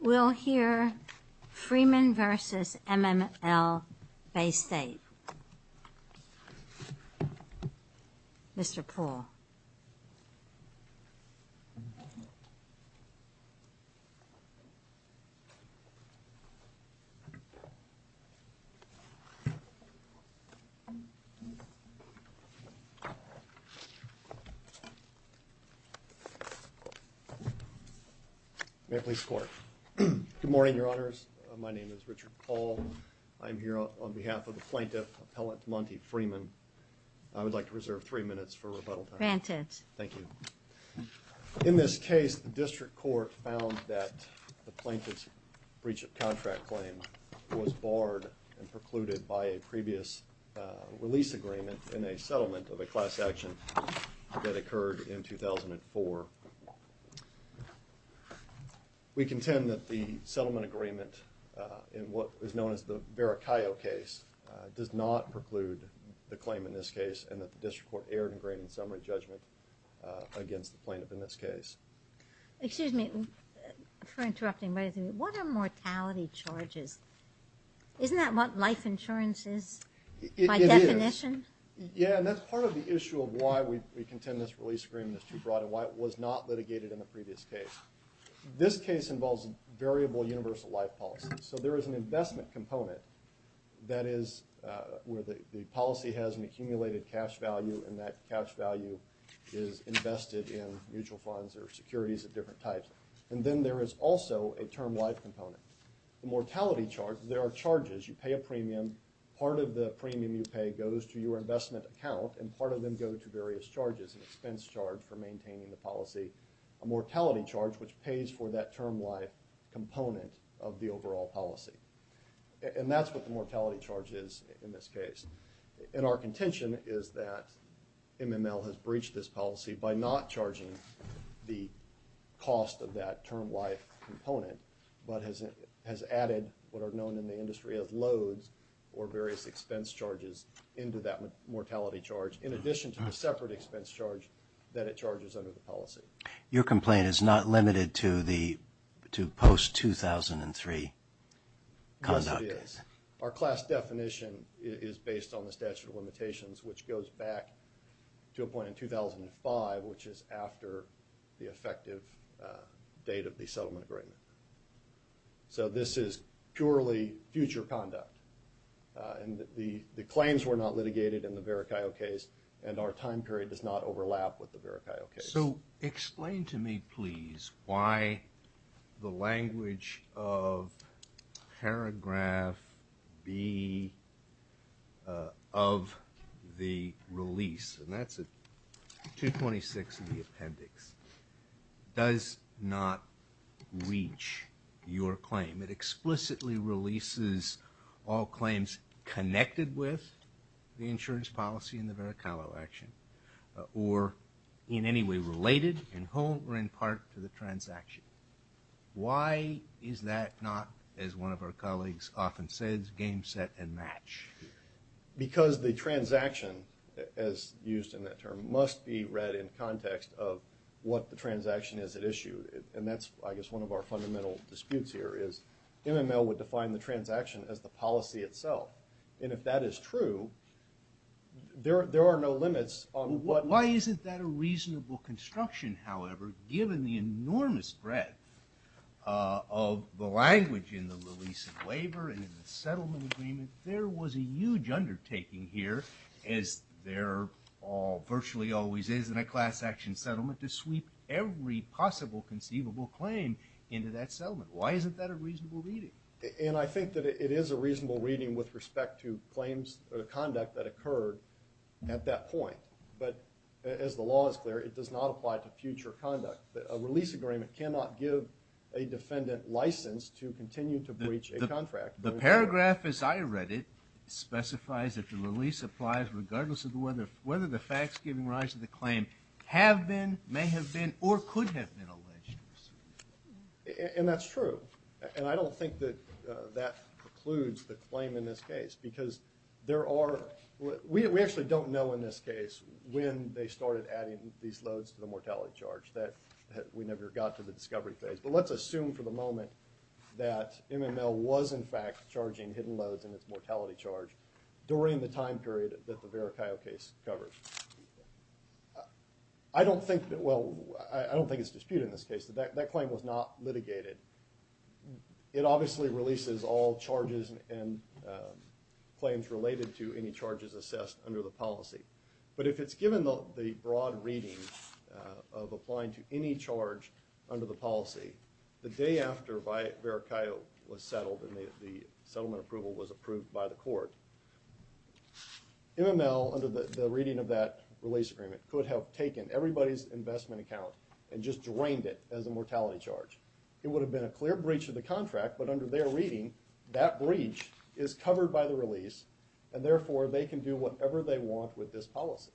We'll hear Freeman v. MMLBay State. Mr. Poole. Good morning, Your Honors. My name is Richard Poole. I'm here on behalf of the plaintiff, Appellant Monty Freeman. I would like to reserve three minutes for rebuttal time. Granted. Thank you. In this case, the district court found that the plaintiff's breach of contract claim was barred and precluded by a previous release agreement in a settlement of a class action that occurred in 2004. We contend that the settlement agreement in what is known as the Vericayo case does not preclude the claim in this case and that the district court erred in granting summary judgment against the plaintiff in this case. Excuse me for interrupting, but what are mortality charges? Isn't that what life insurance is by definition? It is. Yeah, and that's part of the issue of why we contend this release agreement is not litigated in the previous case. This case involves a variable universal life policy. So there is an investment component that is where the policy has an accumulated cash value and that cash value is invested in mutual funds or securities of different types. And then there is also a term life component. The mortality charges, there are charges. You pay a premium. Part of the premium you pay goes to your investment account and part of them go to various charges, an expense charge for maintaining the policy, a mortality charge which pays for that term life component of the overall policy. And that's what the mortality charge is in this case. And our contention is that MML has breached this policy by not charging the cost of that term life component but has added what are known in the industry as loads or various expense charges into that mortality charge in addition to the separate expense charge that it charges under the policy. Your complaint is not limited to the post 2003 conduct. Yes, it is. Our class definition is based on the statute of limitations which goes back to a point in 2005 which is after the effective date of the settlement agreement. So this is purely future conduct. And the claims were not litigated in the Veracaio case and our time period does not overlap with the Veracaio case. So explain to me please why the language of paragraph B of the release, and that's at page 26 of the appendix, does not reach your claim. It explicitly releases all claims connected with the insurance policy in the Veracaio action or in any way related in whole or in part to the transaction. Why is that not, as one of our colleagues often says, game set and match? Because the transaction as used in that term must be read in context of what the transaction is at issue. And that's I guess one of our fundamental disputes here is MML would define the transaction as the policy itself. And if that is true, there are no limits on what Why isn't that a reasonable construction, however, given the enormous breadth of the huge undertaking here as there virtually always is in a class action settlement to sweep every possible conceivable claim into that settlement? Why isn't that a reasonable reading? And I think that it is a reasonable reading with respect to claims or the conduct that occurred at that point. But as the law is clear, it does not apply to future conduct. A release agreement cannot give a defendant license to continue to breach a contract. The paragraph as I read it specifies that the release applies regardless of whether the facts giving rise to the claim have been, may have been, or could have been alleged. And that's true. And I don't think that that precludes the claim in this case because there are, we actually don't know in this case when they started adding these loads to the mortality charge that we never got to the discovery phase. But let's assume for the moment that they were charging hidden loads in its mortality charge during the time period that the Veracaio case covered. I don't think, well, I don't think it's disputed in this case. That claim was not litigated. It obviously releases all charges and claims related to any charges assessed under the policy. But if it's given the broad reading of applying to any charge under the policy, the day after Veracaio was settled and the settlement approval was approved by the court, MML under the reading of that release agreement could have taken everybody's investment account and just drained it as a mortality charge. It would have been a clear breach of the contract, but under their reading, that breach is covered by the release and therefore they can do whatever they want with this policy.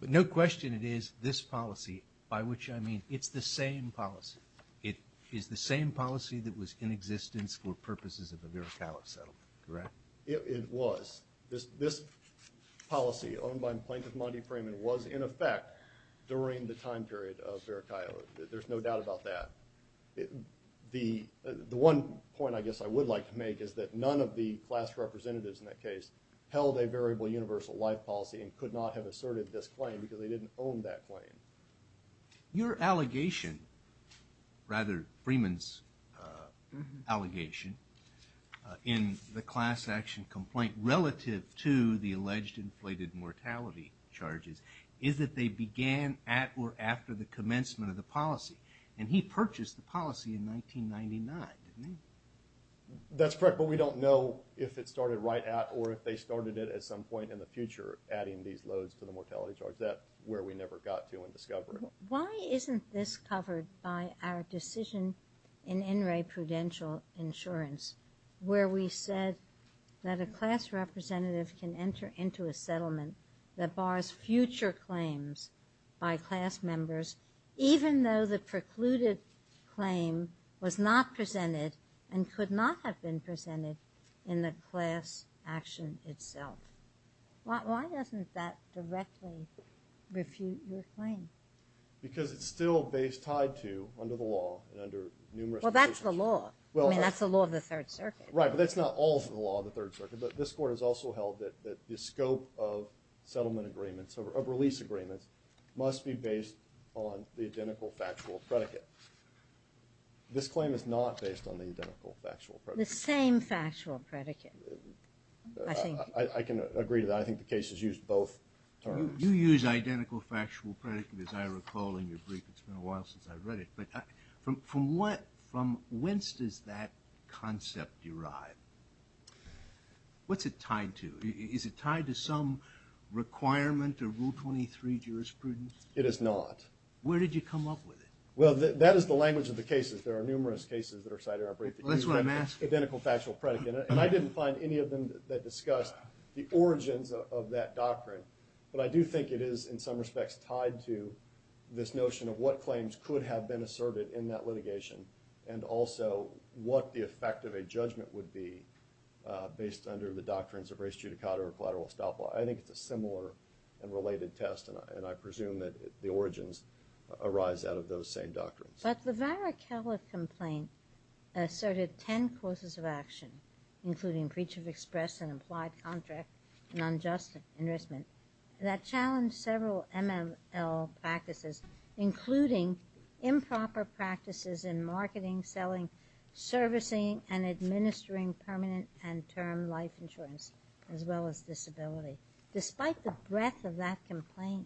But no question it is this policy, by which I mean it's the same policy. It is the same policy that was in existence for purposes of the Veracaio settlement, correct? It was. This policy owned by Plaintiff Monty Freeman was in effect during the time period of Veracaio. There's no doubt about that. The one point I guess I would like to make is that none of the class representatives in that case held a variable universal life policy and could not have asserted this claim because they didn't own that claim. Your allegation, rather Freeman's allegation, in the class action complaint relative to the alleged inflated mortality charges is that they began at or after the commencement of the policy. And he purchased the policy in 1999, didn't he? That's correct, but we don't know if it started right at or if they started it at some point in the future adding these loads to the mortality charge. That's where we never got to in discovery. Why isn't this covered by our decision in In re Prudential Insurance where we said that a class representative can enter into a settlement that bars future claims by class members even though the precluded claim was not presented and could not have been presented in the class action itself? Why doesn't that directly refute your claim? Because it's still based, tied to, under the law and under numerous conditions. Well, that's the law. I mean, that's the law of the Third Circuit. Right, but that's not all of the law of the Third Circuit. But this Court has also held that the scope of settlement agreements, of release agreements, must be based on the identical factual predicate. This claim is not based on the identical factual predicate. The same factual predicate, I think. I can agree to that. I think the case is used both terms. You use identical factual predicate, as I recall, in your brief. It's been a while since I've read it. But from whence does that concept derive? What's it tied to? Is it tied to some requirement of Rule 23 jurisprudence? It is not. Where did you come up with it? Well, that is the language of the cases. There are numerous cases that are cited in our brief that use identical factual predicate. And I didn't find any of them that discussed the origins of that doctrine. But I do think it is, in some respects, tied to this notion of what claims could have been asserted in that litigation, and also what the effect of a judgment would be based under the doctrines of race judicata or collateral estoppel. I think it's a similar and related test, and I presume that the origins arise out of those same doctrines. But the Varakella complaint asserted 10 courses of action, including breach of express and implied contract and unjust enrichment, that challenged several MML practices, including improper practices in marketing, selling, servicing and administering permanent and term life insurance, as well as disability. Despite the breadth of that complaint,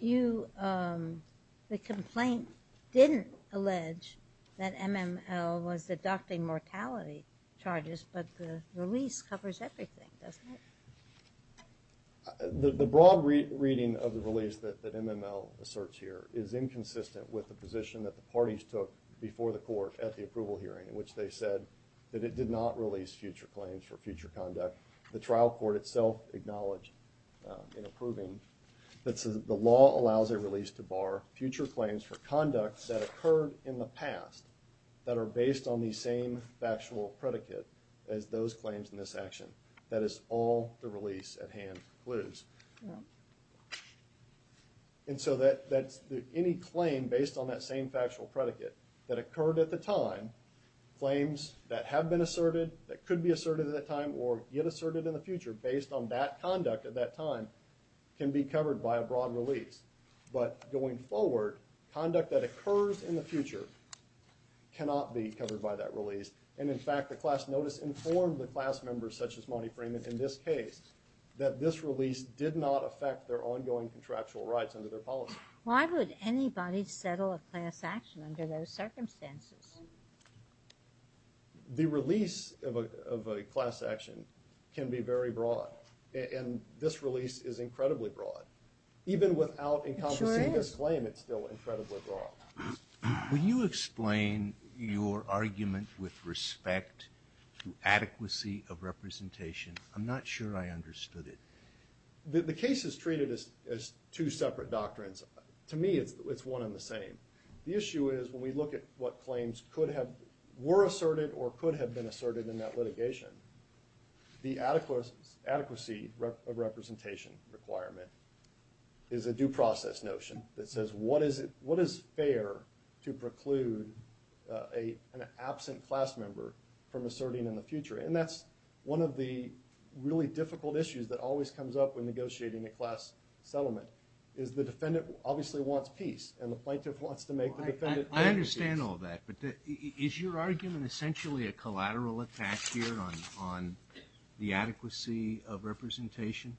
the complaint didn't allege that MML was adopting mortality charges, but the release covers everything, doesn't it? The broad reading of the release that MML asserts here is inconsistent with the position that the parties took before the court at the approval hearing, in which they said that it did not release future claims for future conduct. The trial court itself acknowledged in approving that the law allows a release to bar future claims for conducts that occurred in the past that are based on the same factual predicate as those claims in this action. That is, all the release at hand includes. And so any claim based on that same factual predicate that occurred at the time, claims that have been asserted, that could be asserted at that time, or get asserted in the future based on that conduct at that time, can be covered by a broad release. But going forward, conduct that occurs in the future cannot be covered by that release. And in fact, the class notice informed the class members, such as Monty Freeman in this case, that this release did not affect their ongoing contractual rights under their policy. Why would anybody settle a class action under those circumstances? The release of a class action can be very broad. And this release is incredibly broad. Even without encompassing this claim, it's still incredibly broad. Will you explain your argument with respect to adequacy of representation? I'm not sure I understood it. The case is treated as two separate doctrines. To me, it's one and the same. The issue is, when we look at what claims were asserted or could have been asserted in that litigation, the adequacy of representation requirement is a due process notion that says, what is fair to preclude an absent class member from asserting in the future? And that's one of the really difficult issues that always comes up when negotiating a class settlement, is the defendant obviously wants peace, and the plaintiff wants to make the defendant happy. I understand all that, but is your argument essentially a collateral attack here on the adequacy of representation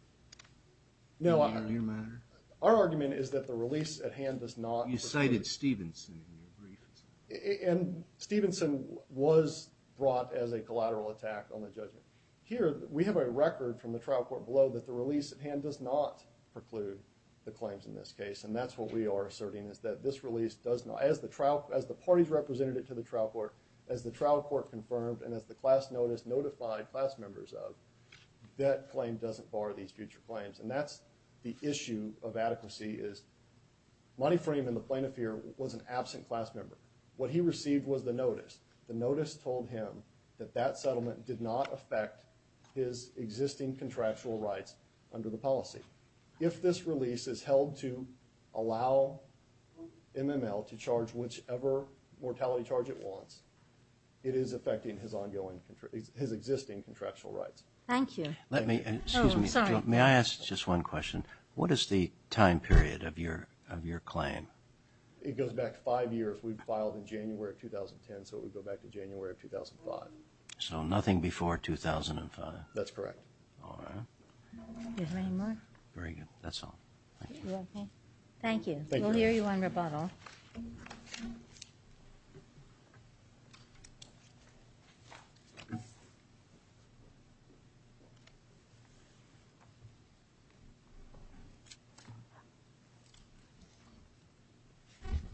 in the near matter? Our argument is that the release at hand does not preclude... You cited Stevenson in your brief. And Stevenson was brought as a collateral attack on the judgment. Here, we have a record from the trial court below that the release at hand does not preclude the claims in this case, and that's what we are asserting, is that this release does not, as the parties represented it to the trial court, as the trial court confirmed, and as the class notice notified class members of, that claim doesn't bar these future claims. And that's the issue of adequacy, is Monteframe and the plaintiff here was an absent class member. What he received was the notice. The notice told him that that settlement did not affect his existing contractual rights under the policy. If this release is held to allow MML to charge whichever mortality charge it wants, it is affecting his ongoing, his existing contractual rights. Thank you. Let me, excuse me, may I ask just one question? What is the time period of your claim? It goes back five years. We filed in January of 2010, so it would go back to January of 2005. So nothing before 2005? That's correct. All right. Any more? Very good. That's all. Thank you. Thank you. Thank you. We'll hear you on rebuttal.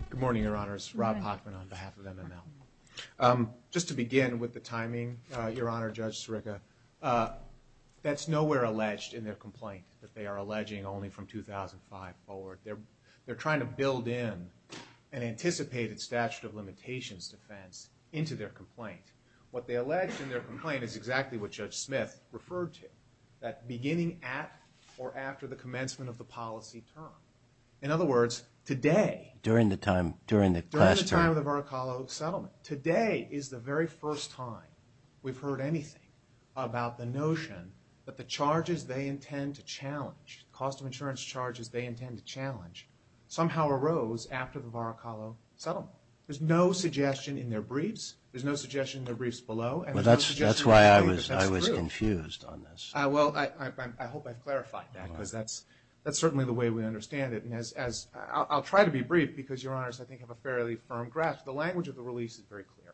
Good morning, Your Honors. Rob Hochman on behalf of MML. Just to begin with the timing, Your Honor, Judge Sirica, that's nowhere alleged in their complaint that they are alleging only from 2005 forward. They're trying to build in an anticipated statute of limitations defense into their complaint. What they allege in their complaint is exactly what Judge Smith referred to, that beginning at or after the commencement of the policy term. In other words, today... During the time, during the past term. During the time of the Varacalo settlement. Today is the very first time we've heard anything about the notion that the charges they intend to challenge, the cost of insurance charges they intend to challenge, somehow arose after the Varacalo settlement. There's no suggestion in their briefs, there's no suggestion in their briefs below, and there's no suggestion in their briefs that that's true. That's why I was confused on this. Well, I hope I've clarified that, because that's certainly the way we understand it. And as, I'll try to be brief, because Your Honors, I think, have a fairly firm grasp. The language of the release is very clear,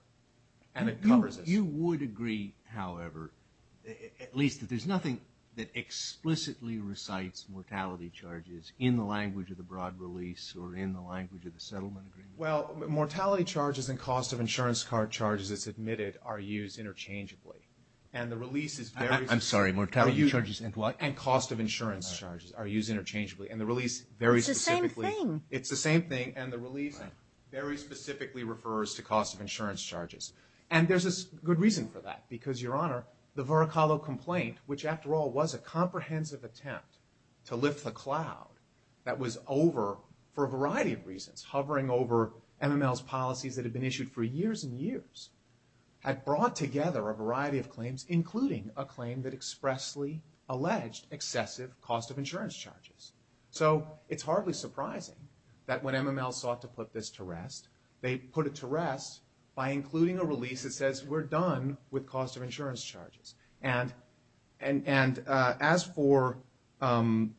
and it covers this. You would agree, however, at least that there's nothing that explicitly recites mortality charges in the language of the broad release or in the language of the settlement agreement? Well, mortality charges and cost of insurance charges, it's admitted, are used interchangeably. And the release is very... I'm sorry, mortality charges and what? And cost of insurance charges are used interchangeably. And the release very specifically... It's the same thing. It's the same thing, and the release very specifically refers to cost of insurance charges. And there's a good reason for that, because, Your Honor, the Varacalo complaint, which after all was a comprehensive attempt to lift the cloud that was over for a variety of reasons, hovering over MML's policies that had been issued for years and years, had brought together a variety of claims, including a claim that expressly alleged excessive cost of insurance charges. So it's hardly surprising that when MML sought to put this to rest, they put it to rest by including a release that says, we're done with cost of insurance charges. And as for... That,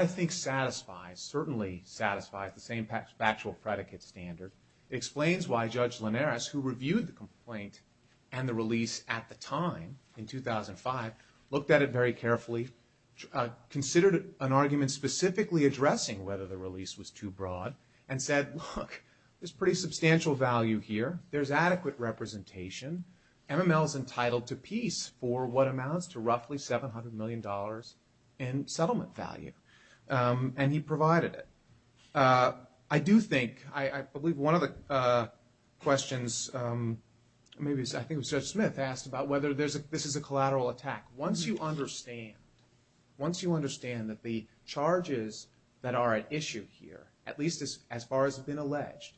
I think, satisfies, certainly satisfies the same factual predicate standard, explains why Judge Linares, who reviewed the complaint and the release at the time, in 2005, looked at it very carefully, considered an argument specifically addressing whether the release was too broad, and said, look, there's pretty substantial value here, there's adequate representation, MML's entitled to peace for what amounts to roughly $700 million in settlement value. And he provided it. I do think, I believe one of the questions, maybe, I think it was Judge Smith asked about whether this is a collateral attack. Once you understand, once you understand that the charges that are at issue here, at least as far as has been alleged,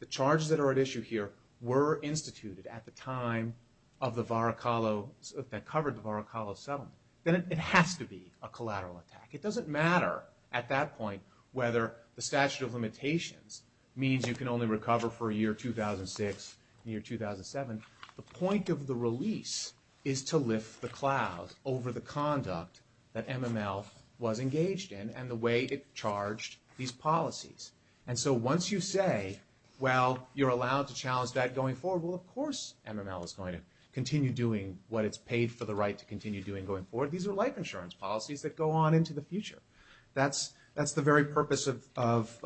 the charges that are at issue here were instituted at the time of the Varacalo, that covered the Varacalo settlement, then it has to be a collateral attack. It doesn't matter at that point whether the statute of limitations means you can only recover for a year 2006, a year 2007, the point of the release is to lift the clouds over the conduct that MML was engaged in and the way it charged these policies. And so once you say, well, you're allowed to challenge that going forward, well of course MML is going to continue doing what it's paid for the right to continue doing going forward. These are life insurance policies that go on into the future. That's the very purpose of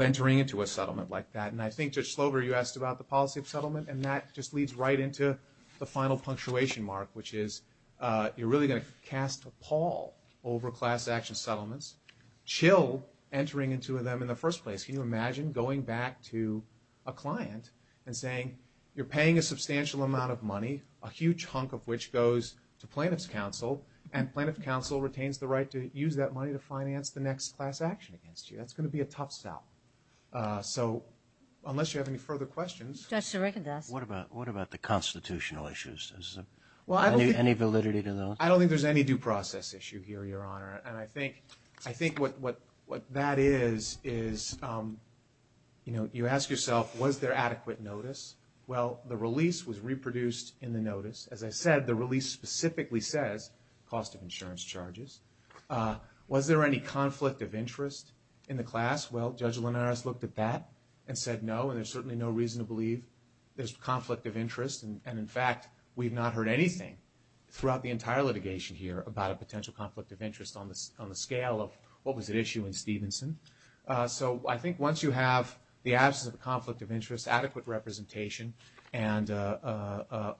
entering into a settlement like that. And I think Judge Slover, you asked about the policy of settlement, and that just leads right into the final punctuation mark, which is you're really going to cast a pall over class action settlements, chill entering into them in the first place. Can you imagine going back to a client and saying, you're paying a substantial amount of money, a huge hunk of which goes to plaintiff's counsel, and plaintiff's counsel retains the right to use that money to finance the next class action against you. That's going to be a tough sell. So unless you have any further questions. Judge Serrica does. What about the constitutional issues? Is there any validity to those? I don't think there's any due process issue here, Your Honor. And I think what that is, is you ask yourself, was there adequate notice? Well, the release was reproduced in the notice. As I said, the release specifically says cost of insurance charges. Was there any conflict of interest in the class? Well, Judge Linares looked at that and said no, and there's certainly no reason to believe there's conflict of interest. And in fact, we've not heard anything throughout the entire litigation here about a potential conflict of interest on the scale of what was at issue in Stevenson. So I think once you have the absence of a conflict of interest, adequate representation, and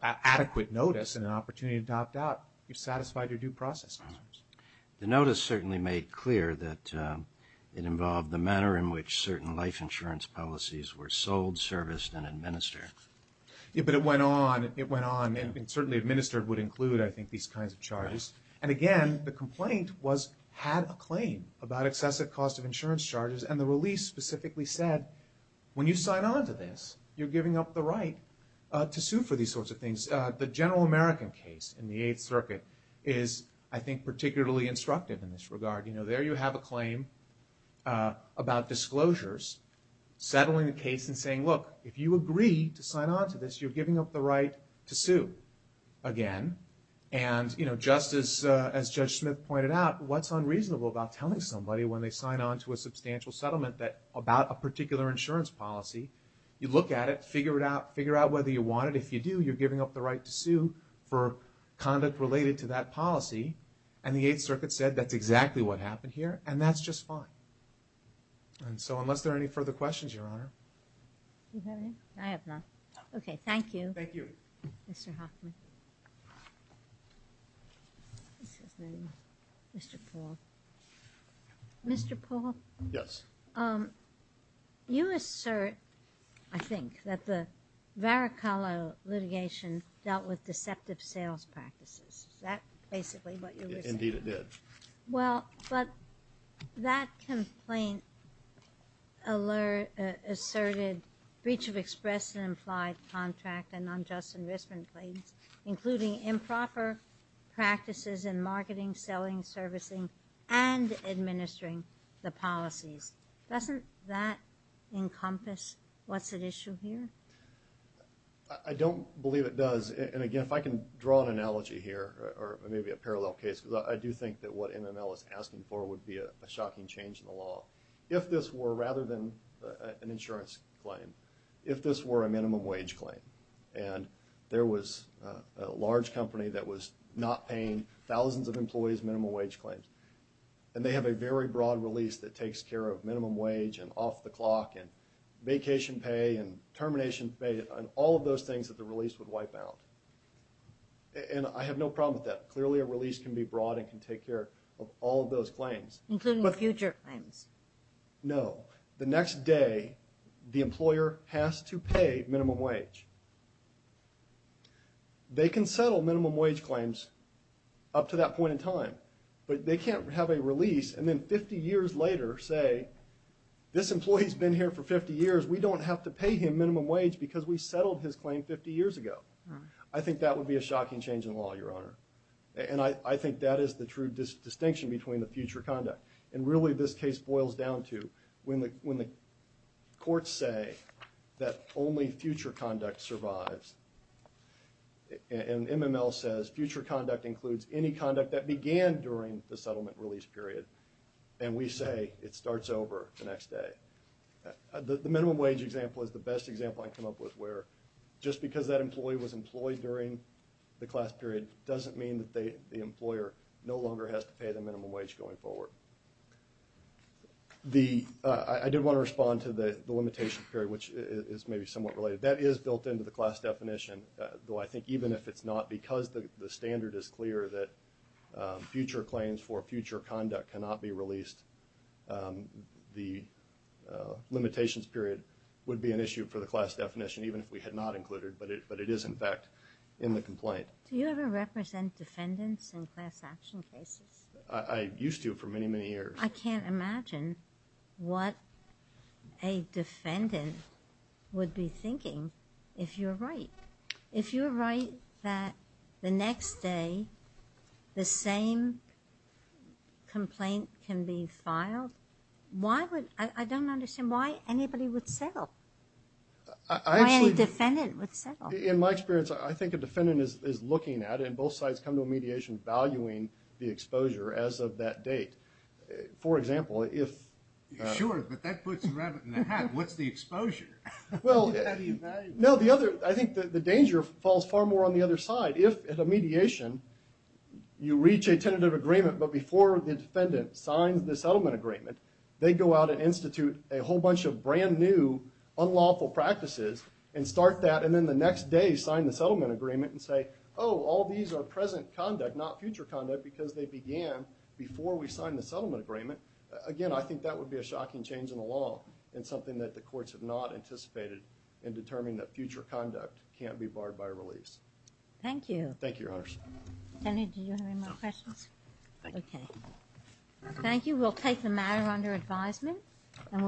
adequate notice, and an opportunity to opt out, you've satisfied your due process. The notice certainly made clear that it involved the manner in which certain life insurance policies were sold, serviced, and administered. Yeah, but it went on, it went on, and certainly administered would include, I think, these kinds of charges. And again, the complaint had a claim about excessive cost of insurance charges, and the release specifically said, when you sign on to this, you're giving up the right to sue for these sorts of things. The general American case in the Eighth Circuit is, I think, particularly instructive in this regard. There you have a claim about disclosures, settling the case and saying, look, if you agree to sign on to this, you're giving up the right to sue again. And just as Judge Smith pointed out, what's unreasonable about telling somebody when they sign on to a substantial settlement about a particular insurance policy? You look at it, figure out whether you want it. If you do, you're giving up the right to sue for conduct related to that policy. And the Eighth Circuit said, that's exactly what happened here, and that's just fine. And so, unless there are any further questions, Your Honor. You have any? I have none. No. Okay, thank you. Thank you. Mr. Hoffman. Excuse me. Mr. Paul. Mr. Paul? Yes. Is that basically what you're saying? Yes. That's basically what you're saying. Indeed, it did. Well, but that complaint asserted breach of express and implied contract and unjust enrichment claims, including improper practices in marketing, selling, servicing, and administering the policies. Doesn't that encompass what's at issue here? I don't believe it does. And again, if I can draw an analogy here, or maybe a parallel case, because I do think that what NML is asking for would be a shocking change in the law. If this were, rather than an insurance claim, if this were a minimum wage claim, and there was a large company that was not paying thousands of employees minimum wage claims, and they have a very broad release that takes care of minimum wage and off the clock and vacation pay and termination pay, and all of those things that the release would wipe out. And I have no problem with that. Clearly a release can be broad and can take care of all of those claims. Including future claims. No. The next day, the employer has to pay minimum wage. They can settle minimum wage claims up to that point in time, but they can't have a release and then 50 years later say, this employee's been here for 50 years. We don't have to pay him minimum wage because we settled his claim 50 years ago. I think that would be a shocking change in law, your honor. And I think that is the true distinction between the future conduct. And really this case boils down to, when the courts say that only future conduct survives, and NML says future conduct includes any conduct that began during the settlement release period, and we say it starts over the next day. The minimum wage example is the best example I can come up with, where just because that employee was employed during the class period doesn't mean that the employer no longer has to pay the minimum wage going forward. I did want to respond to the limitation period, which is maybe somewhat related. That is built into the class definition, though I think even if it's not, because the standard is clear that future claims for future conduct cannot be released, the limitations period would be an issue for the class definition, even if we had not included, but it is in fact in the complaint. Do you ever represent defendants in class action cases? I used to for many, many years. I can't imagine what a defendant would be thinking if you're right. If you're right that the next day, the same complaint can be filed, why would, I don't understand why anybody would settle, why any defendant would settle? In my experience, I think a defendant is looking at it, and both sides come to a mediation valuing the exposure as of that date. For example, if... Sure, but that puts a rabbit in a hat. What's the exposure? I think the danger falls far more on the other side. If at a mediation, you reach a tentative agreement, but before the defendant signs the settlement agreement, they go out and institute a whole bunch of brand new unlawful practices and start that, and then the next day sign the settlement agreement and say, oh, all these are present conduct, not future conduct, because they began before we signed the settlement agreement. Again, I think that would be a shocking change in the law, and something that the courts have not anticipated in determining that future conduct can't be barred by release. Thank you. Thank you, Your Honors. Kenny, do you have any more questions? Thank you. Okay. Thank you. We'll take the matter under advisement, and we'll...